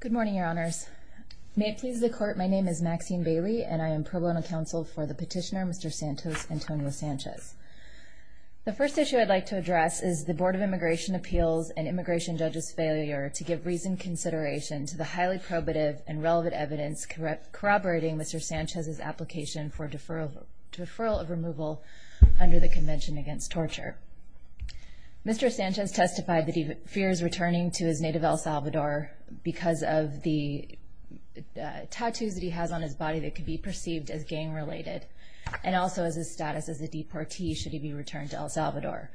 Good morning, your honors. May it please the court, my name is Maxine Bailey and I am pro bono counsel for the petitioner, Mr. Santos Antonio Sanchez. The first issue I'd like to address is the Board of Immigration Appeals and Immigration Judge's failure to give reasoned consideration to the highly probative and relevant evidence corroborating Mr. Sanchez's application for deferral of removal under the Convention Against Torture. Mr. Sanchez testified that he fears returning to his native El Salvador because of the tattoos that he has on his body that could be perceived as gang related and also his status as a deportee should he be returned to El Salvador.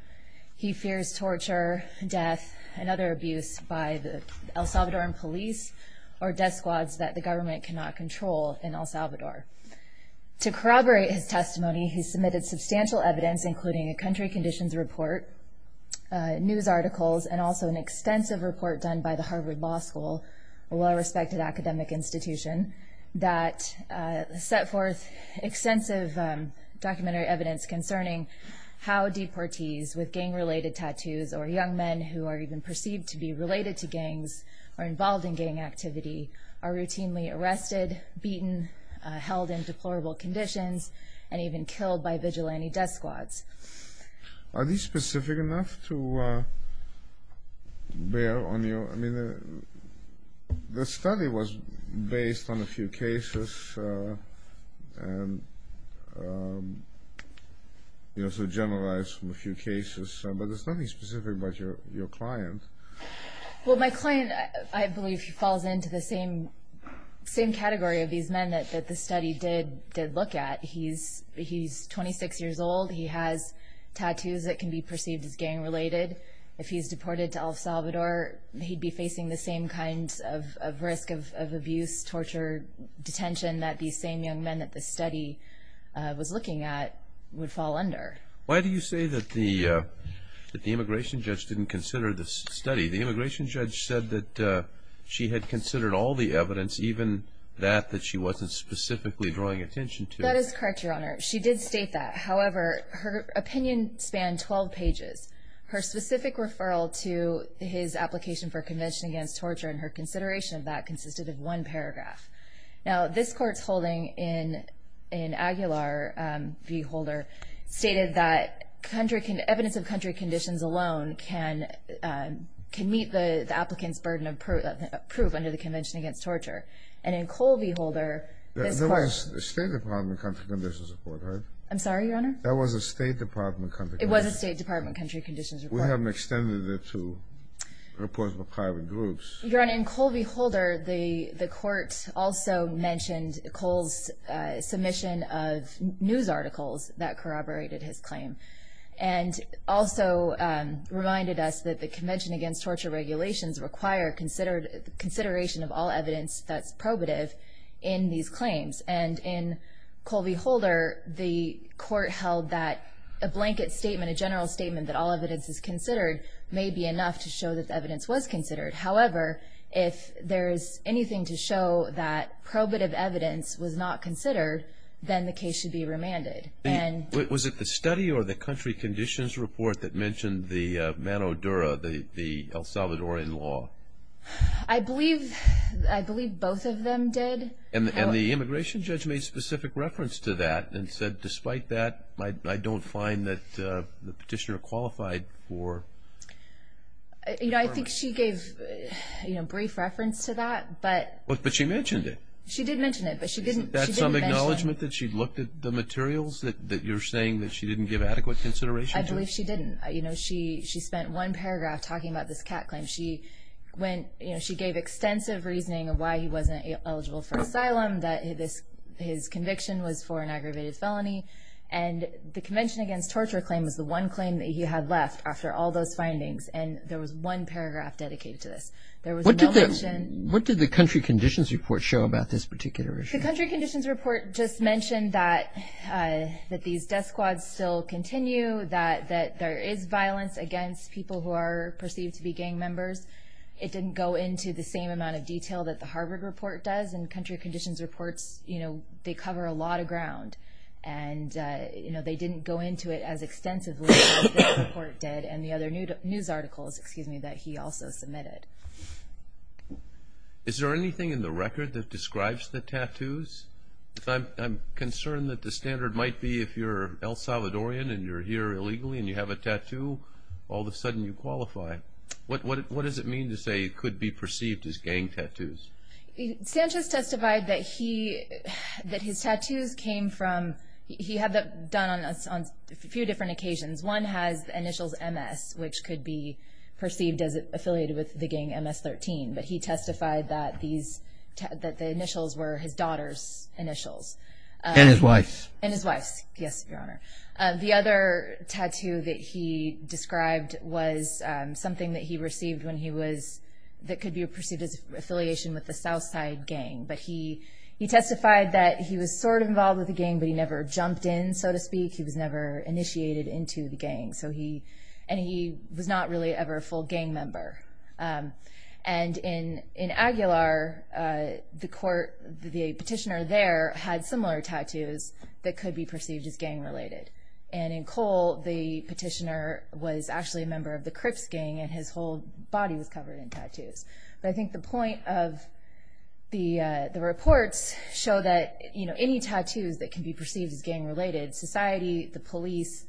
He fears torture, death, and other abuse by the El Salvadoran police or death squads that the government cannot control in El Salvador. To corroborate his testimony, he submitted substantial evidence including a country conditions report, news articles, and also an extensive report done by the Harvard Law School, a well-respected academic institution, that set forth extensive documentary evidence concerning how deportees with gang related tattoos or young men who are even perceived to be related to gangs or involved in gang activity are routinely arrested, beaten, held in deplorable conditions, and even killed by vigilante death squads. Are these specific enough to bear on you? I mean the study was based on a few cases and you also generalized a few cases, but there's nothing specific about your client. Well, my client, I believe, falls into the same category of these men that the study did look at. He's 26 years old. He has tattoos that can be perceived as gang related. If he's deported to El Salvador, he'd be facing the same kind of risk of abuse, torture, detention that these same young men that the study was looking at would fall under. Why do you say that the immigration judge didn't consider this study? The immigration judge said that she had considered all the evidence, even that that she wasn't specifically drawing attention to. That is correct, Your Honor. She did state that. However, her opinion spanned 12 pages. Her specific referral to his application for Convention Against Torture and her consideration of that consisted of one paragraph. Now this court's holding in Aguilar v. Holder stated that evidence of country conditions alone can meet the applicant's burden of proof under the Convention Against Torture. There was a State Department country conditions report, right? I'm sorry, Your Honor? There was a State Department country conditions report. It was a State Department country conditions report. We haven't extended it to reports of private groups. Your Honor, in Colby v. Holder, the court also mentioned Cole's submission of news articles that corroborated his claim and also reminded us that the Convention Against Torture regulations require consideration of all evidence that's probative in these claims. And in Colby v. Holder, the court held that a blanket statement, a general statement that all evidence is considered may be enough to show that the evidence was considered. However, if there is anything to show that probative evidence was not considered, then the case should be remanded. Was it the study or the country conditions report that mentioned the mano dura, the El Salvadorian law? I believe both of them did. And the immigration judge made specific reference to that and said, despite that, I don't find that the petitioner qualified for... You know, I think she gave, you know, brief reference to that, but... But she mentioned it. She did mention it, but she didn't... Isn't that some acknowledgement that she looked at the materials that you're saying that she didn't give adequate consideration to? I believe she didn't. You know, she spent one paragraph talking about this cat claim. She went... You know, she gave extensive reasoning of why he wasn't eligible for asylum, that his conviction was for an aggravated felony. And the Convention Against Torture claim was the one claim that he had left after all those findings. And there was one paragraph dedicated to this. There was no mention... What did the country conditions report show about this particular issue? The country conditions report just mentioned that these death squads still continue, that there is violence against people who are perceived to be gang members. It didn't go into the same amount of detail that the Harvard report does. And country conditions reports, you know, they cover a lot of ground. And, you know, they didn't go into it as extensively as this report did and the other news articles, excuse me, that he also submitted. Is there anything in the record that describes the tattoos? I'm concerned that the standard might be if you're El Salvadorian and you're here illegally and you have a tattoo, all of a sudden you qualify. What does it mean to say it could be perceived as gang tattoos? Sanchez testified that his tattoos came from... He had them done on a few different occasions. One has initials MS, which could be perceived as affiliated with the gang MS-13. But he testified that the initials were his daughter's initials. And his wife's. And his wife's, yes, Your Honor. The other tattoo that he described was something that he received when he was... that could be perceived as affiliation with the Southside gang. But he testified that he was sort of involved with the gang, but he never jumped in, so to speak. He was never initiated into the gang. And he was not really ever a full gang member. And in Aguilar, the petitioner there had similar tattoos that could be perceived as gang-related. And in Cole, the petitioner was actually a member of the Crips gang, and his whole body was covered in tattoos. But I think the point of the reports show that any tattoos that can be perceived as gang-related, society, the police,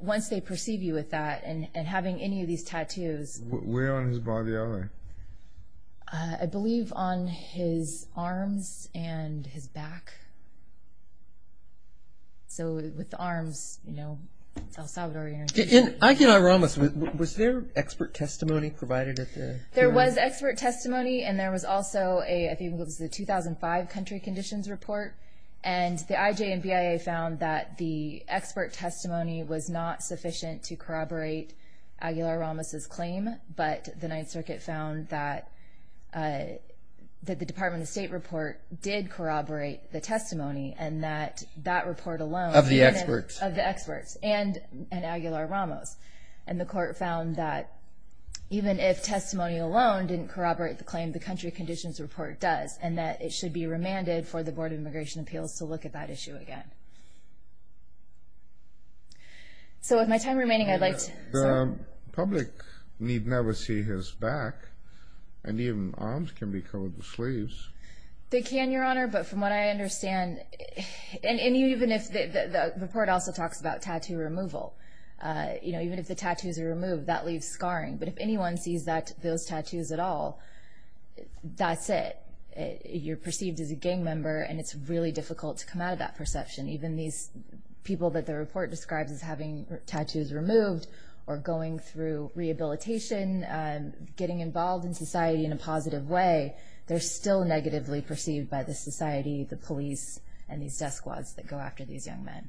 once they perceive you with that and having any of these tattoos... Where on his body are they? I believe on his arms and his back. So with the arms, you know, El Salvadorian... In Aguilar-Ramos, was there expert testimony provided at the... There was expert testimony, and there was also a... I think it was the 2005 country conditions report. And the IJ and BIA found that the expert testimony was not sufficient to corroborate Aguilar-Ramos' claim, but the Ninth Circuit found that the Department of State report did corroborate the testimony, and that that report alone... Of the experts. Of the experts, and Aguilar-Ramos. And the court found that even if testimony alone didn't corroborate the claim, the country conditions report does, and that it should be remanded for the Board of Immigration Appeals to look at that issue again. So with my time remaining, I'd like to... The public need never see his back. And even arms can be covered with sleeves. They can, Your Honor, but from what I understand... And even if... The report also talks about tattoo removal. You know, even if the tattoos are removed, that leaves scarring. But if anyone sees those tattoos at all, that's it. You're perceived as a gang member, and it's really difficult to come out of that perception. Even these people that the report describes as having tattoos removed or going through rehabilitation, getting involved in society in a positive way, they're still negatively perceived by the society, the police, and these death squads that go after these young men.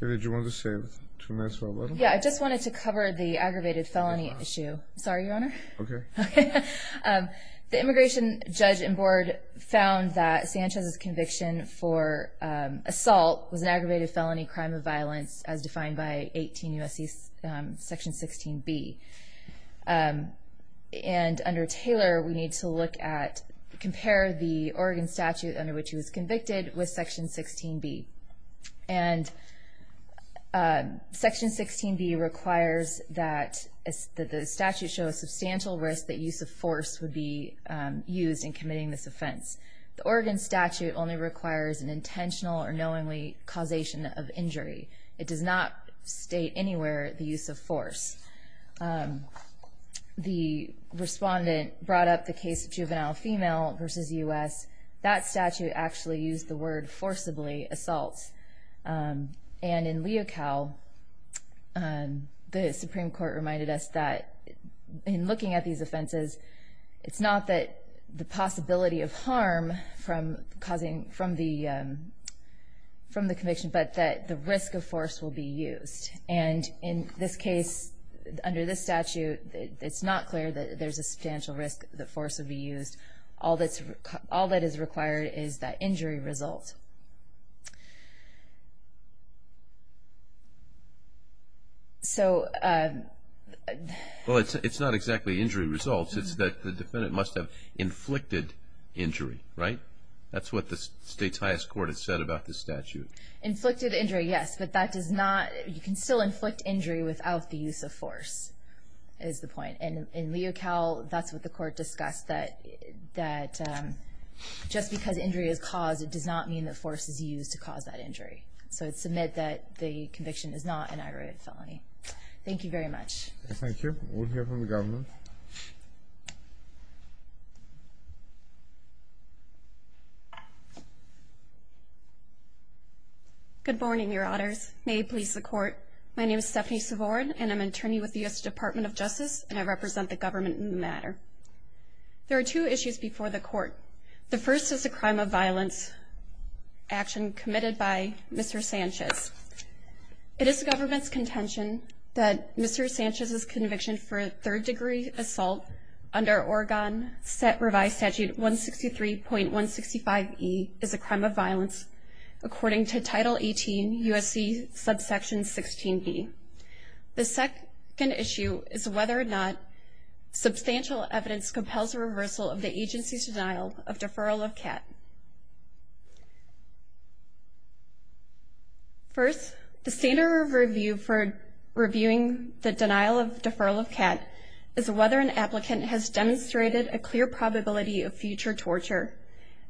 Did you want to say two minutes or a little? Yeah, I just wanted to cover the aggravated felony issue. Sorry, Your Honor. Okay. The immigration judge and board found that Sanchez's conviction for assault was an aggravated felony crime of violence as defined by 18 U.S.C. section 16B. And under Taylor, we need to look at... Under which he was convicted with section 16B. And section 16B requires that the statute show a substantial risk that use of force would be used in committing this offense. The Oregon statute only requires an intentional or knowingly causation of injury. It does not state anywhere the use of force. The respondent brought up the case of juvenile female versus U.S. That statute actually used the word forcibly assault. And in Leocal, the Supreme Court reminded us that in looking at these offenses, it's not that the possibility of harm from the conviction, but that the risk of force will be used. And in this case, under this statute, it's not clear that there's a substantial risk that force will be used. All that is required is that injury result. So... Well, it's not exactly injury results. It's that the defendant must have inflicted injury, right? That's what the state's highest court has said about this statute. Inflicted injury, yes, but that does not... You can still inflict injury without the use of force, is the point. And in Leocal, that's what the court discussed, that just because injury is caused, it does not mean that force is used to cause that injury. So it's a myth that the conviction is not an aggravated felony. Thank you very much. Thank you. We'll hear from the governor. Good morning, Your Honors. May it please the Court. My name is Stephanie Savorn, and I'm an attorney with the U.S. Department of Justice, and I represent the government in the matter. There are two issues before the Court. The first is a crime of violence action committed by Mr. Sanchez. It is the government's contention that Mr. Sanchez's conviction for a third-degree assault under Oregon Revised Statute 163.165e is a crime of violence according to Title 18 U.S.C. subsection 16b. The second issue is whether or not substantial evidence compels a reversal of the agency's denial of deferral of CAT. First, the standard review for reviewing the denial of deferral of CAT is whether an applicant has demonstrated a clear probability of future torture.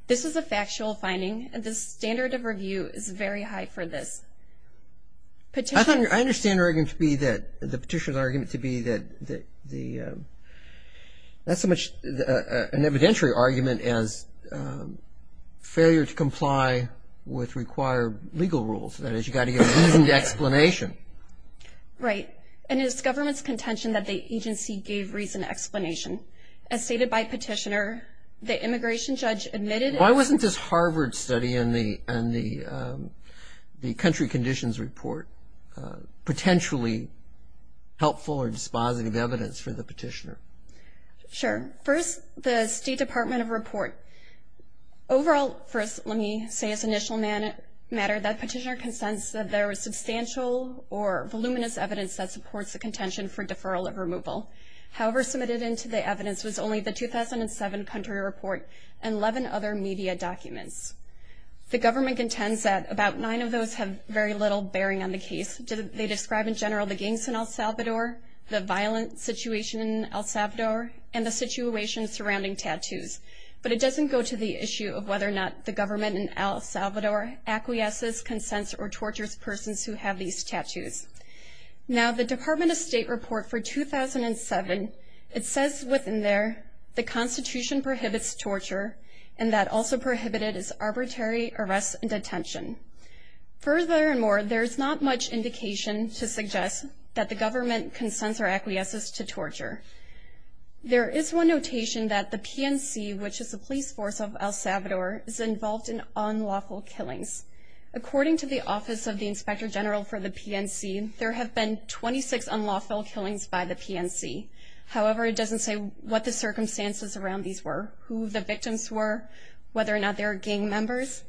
This is a factual finding, and the standard of review is very high for this. I understand the petitioner's argument to be that that's as much an evidentiary argument as failure to comply with required legal rules. That is, you've got to give reason to explanation. Right, and it is government's contention that the agency gave reason to explanation. As stated by petitioner, the immigration judge admitted – Why wasn't this Harvard study and the country conditions report potentially helpful or dispositive evidence for the petitioner? Sure. First, the State Department of Report. Overall, first, let me say as an initial matter that petitioner consents that there was substantial or voluminous evidence that supports the contention for deferral of removal. However, submitted into the evidence was only the 2007 country report and 11 other media documents. The government contends that about nine of those have very little bearing on the case. They describe in general the gangs in El Salvador, the violent situation in El Salvador, and the situation surrounding tattoos. But it doesn't go to the issue of whether or not the government in El Salvador acquiesces, consents, or tortures persons who have these tattoos. Now, the Department of State report for 2007, it says within there the constitution prohibits torture and that also prohibited is arbitrary arrest and detention. Further and more, there's not much indication to suggest that the government consents or acquiesces to torture. There is one notation that the PNC, which is the police force of El Salvador, is involved in unlawful killings. According to the Office of the Inspector General for the PNC, there have been 26 unlawful killings by the PNC. However, it doesn't say what the circumstances around these were, who the victims were, whether or not they were gang members.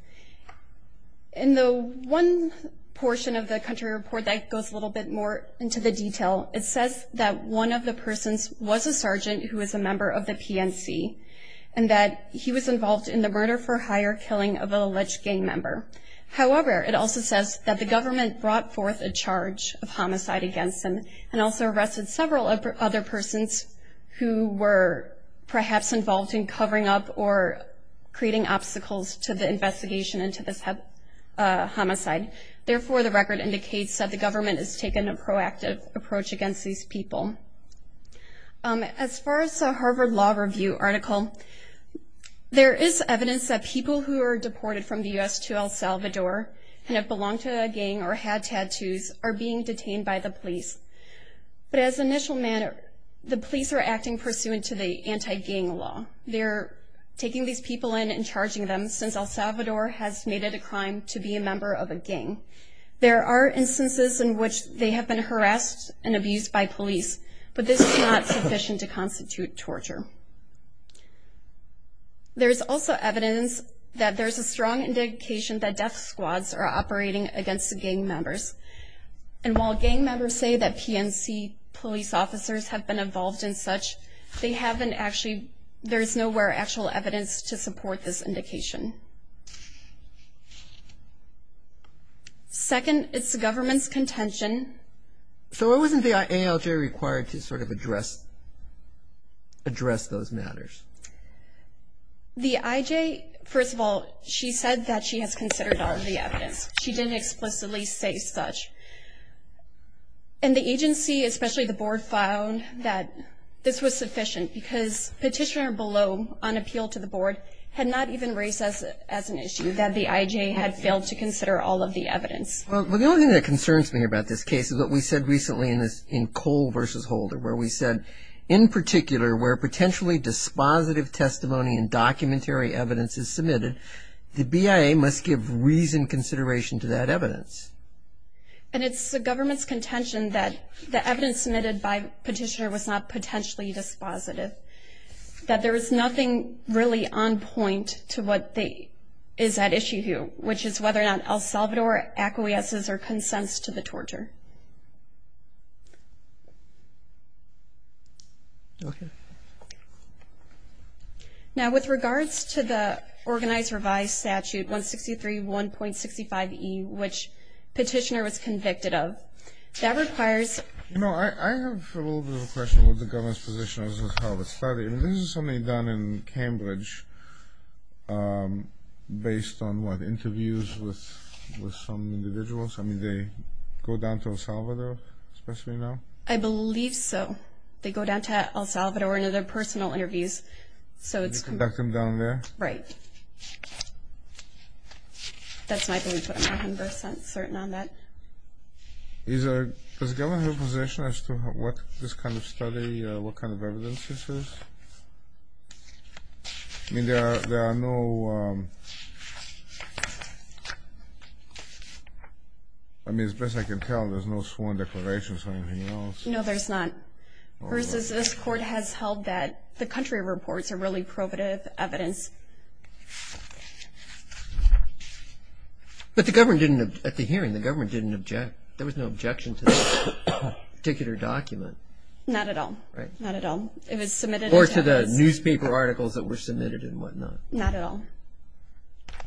In the one portion of the country report that goes a little bit more into the detail, it says that one of the persons was a sergeant who was a member of the PNC and that he was involved in the murder-for-hire killing of an alleged gang member. However, it also says that the government brought forth a charge of homicide against him and also arrested several other persons who were perhaps involved in covering up or creating obstacles to the investigation into this homicide. Therefore, the record indicates that the government has taken a proactive approach against these people. As far as the Harvard Law Review article, there is evidence that people who are deported from the U.S. to El Salvador and have belonged to a gang or had tattoos are being detained by the police. But as an initial matter, the police are acting pursuant to the anti-gang law. They're taking these people in and charging them, since El Salvador has made it a crime to be a member of a gang. There are instances in which they have been harassed and abused by police, but this is not sufficient to constitute torture. There's also evidence that there's a strong indication that death squads are operating against gang members. And while gang members say that PNC police officers have been involved in such, they haven't actually, there's nowhere actual evidence to support this indication. Second, it's the government's contention. So why wasn't the IALJ required to sort of address those matters? The IJ, first of all, she said that she has considered all of the evidence. She didn't explicitly say such. And the agency, especially the board, found that this was sufficient because petitioner below, on appeal to the board, had not even raised as an issue that the IJ had failed to consider all of the evidence. Well, the only thing that concerns me about this case is what we said recently in Cole v. Holder, where we said, in particular, where potentially dispositive testimony and documentary evidence is submitted, the BIA must give reasoned consideration to that evidence. And it's the government's contention that the evidence submitted by petitioner was not potentially dispositive, that there was nothing really on point to what is at issue here, which is whether or not El Salvador acquiesces or consents to the torture. Okay. Now, with regards to the Organized Revised Statute 163.1.65e, which petitioner was convicted of, that requires... You know, I have a little bit of a question with the government's position as to how it's studied. I mean, this is something done in Cambridge based on, what, interviews with some individuals? I mean, they go down to El Salvador, especially now? I believe so. They go down to El Salvador in their personal interviews, so it's... You conduct them down there? Right. That's my belief, but I'm not 100% certain on that. Is the government in a position as to what this kind of study, what kind of evidence this is? I mean, there are no... I mean, as best I can tell, there's no sworn declarations or anything else. No, there's not. Versus this court has held that the country reports are really probative evidence. But the government didn't, at the hearing, the government didn't object. There was no objection to this particular document. Not at all. Right. Not at all. It was submitted as evidence. Or to the newspaper articles that were submitted and whatnot. Not at all. Okay.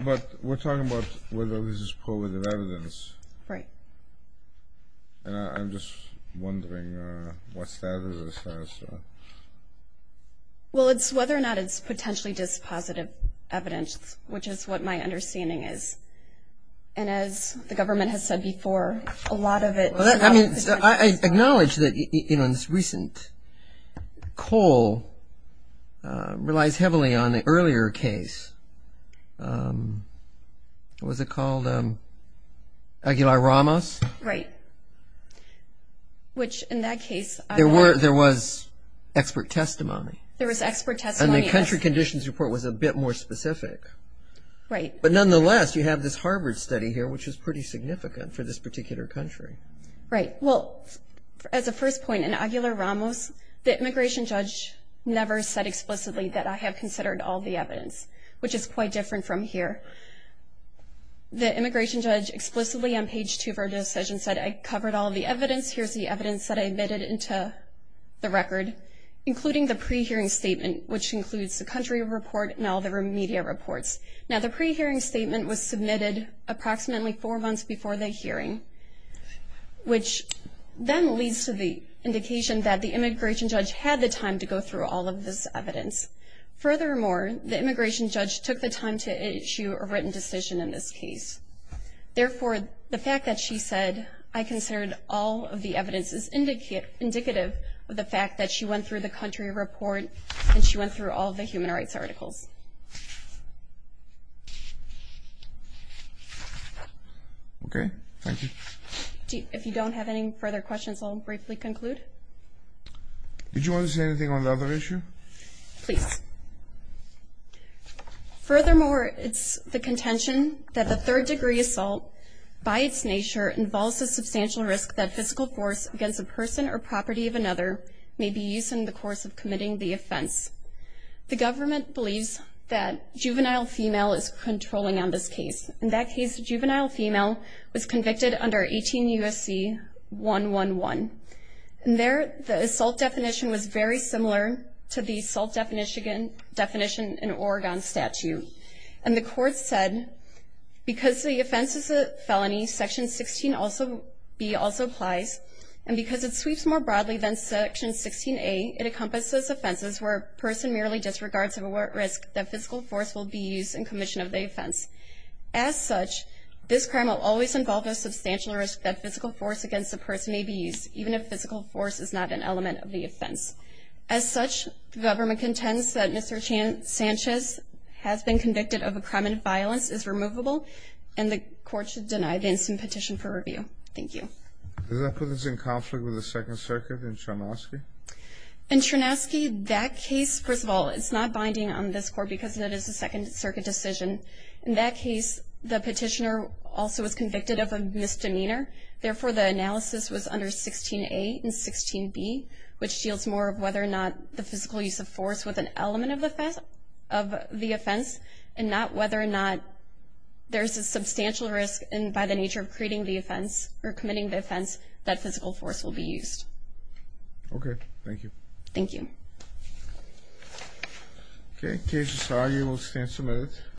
But we're talking about whether this is probative evidence. Right. And I'm just wondering what status this has. Well, it's whether or not it's potentially dispositive evidence, which is what my understanding is. And as the government has said before, a lot of it... I mean, I acknowledge that this recent coal relies heavily on the earlier case. What was it called? Aguilar-Ramos? Right. Which, in that case... There was expert testimony. There was expert testimony. And the country conditions report was a bit more specific. Right. But nonetheless, you have this Harvard study here, which is pretty significant for this particular country. Right. Well, as a first point, in Aguilar-Ramos, the immigration judge never said explicitly that I have considered all the evidence, which is quite different from here. The immigration judge explicitly on page two of our decision said, I covered all the evidence, here's the evidence that I admitted into the record, including the pre-hearing statement, which includes the country report and all the media reports. Now, the pre-hearing statement was submitted approximately four months before the hearing, which then leads to the indication that the immigration judge had the time to go through all of this evidence. Furthermore, the immigration judge took the time to issue a written decision in this case. Therefore, the fact that she said, I considered all of the evidence, is indicative of the fact that she went through the country report and she went through all of the human rights articles. Okay. Thank you. If you don't have any further questions, I'll briefly conclude. Did you want to say anything on the other issue? Please. Furthermore, it's the contention that the third degree assault, by its nature, involves a substantial risk that physical force against a person or property of another may be used in the course of committing the offense. The government believes that juvenile female is controlling on this case. In that case, the juvenile female was convicted under 18 U.S.C. 111. And there, the assault definition was very similar to the assault definition in Oregon statute. And the court said, because the offense is a felony, Section 16B also applies, and because it sweeps more broadly than Section 16A, it encompasses offenses where a person merely disregards a risk that physical force will be used in commission of the offense. As such, this crime will always involve a substantial risk that physical force against a person may be used, even if physical force is not an element of the offense. As such, the government contends that Mr. Sanchez has been convicted of a crime and violence is removable, and the court should deny the instant petition for review. Thank you. Does that put us in conflict with the Second Circuit in Chernovsky? In Chernovsky, that case, first of all, it's not binding on this court because it is a Second Circuit decision. In that case, the petitioner also was convicted of a misdemeanor. Therefore, the analysis was under 16A and 16B, which deals more of whether or not the physical use of force was an element of the offense and not whether or not there's a substantial risk by the nature of creating the offense or committing the offense that physical force will be used. Okay, thank you. Thank you. Okay, cases are able to stand submitted.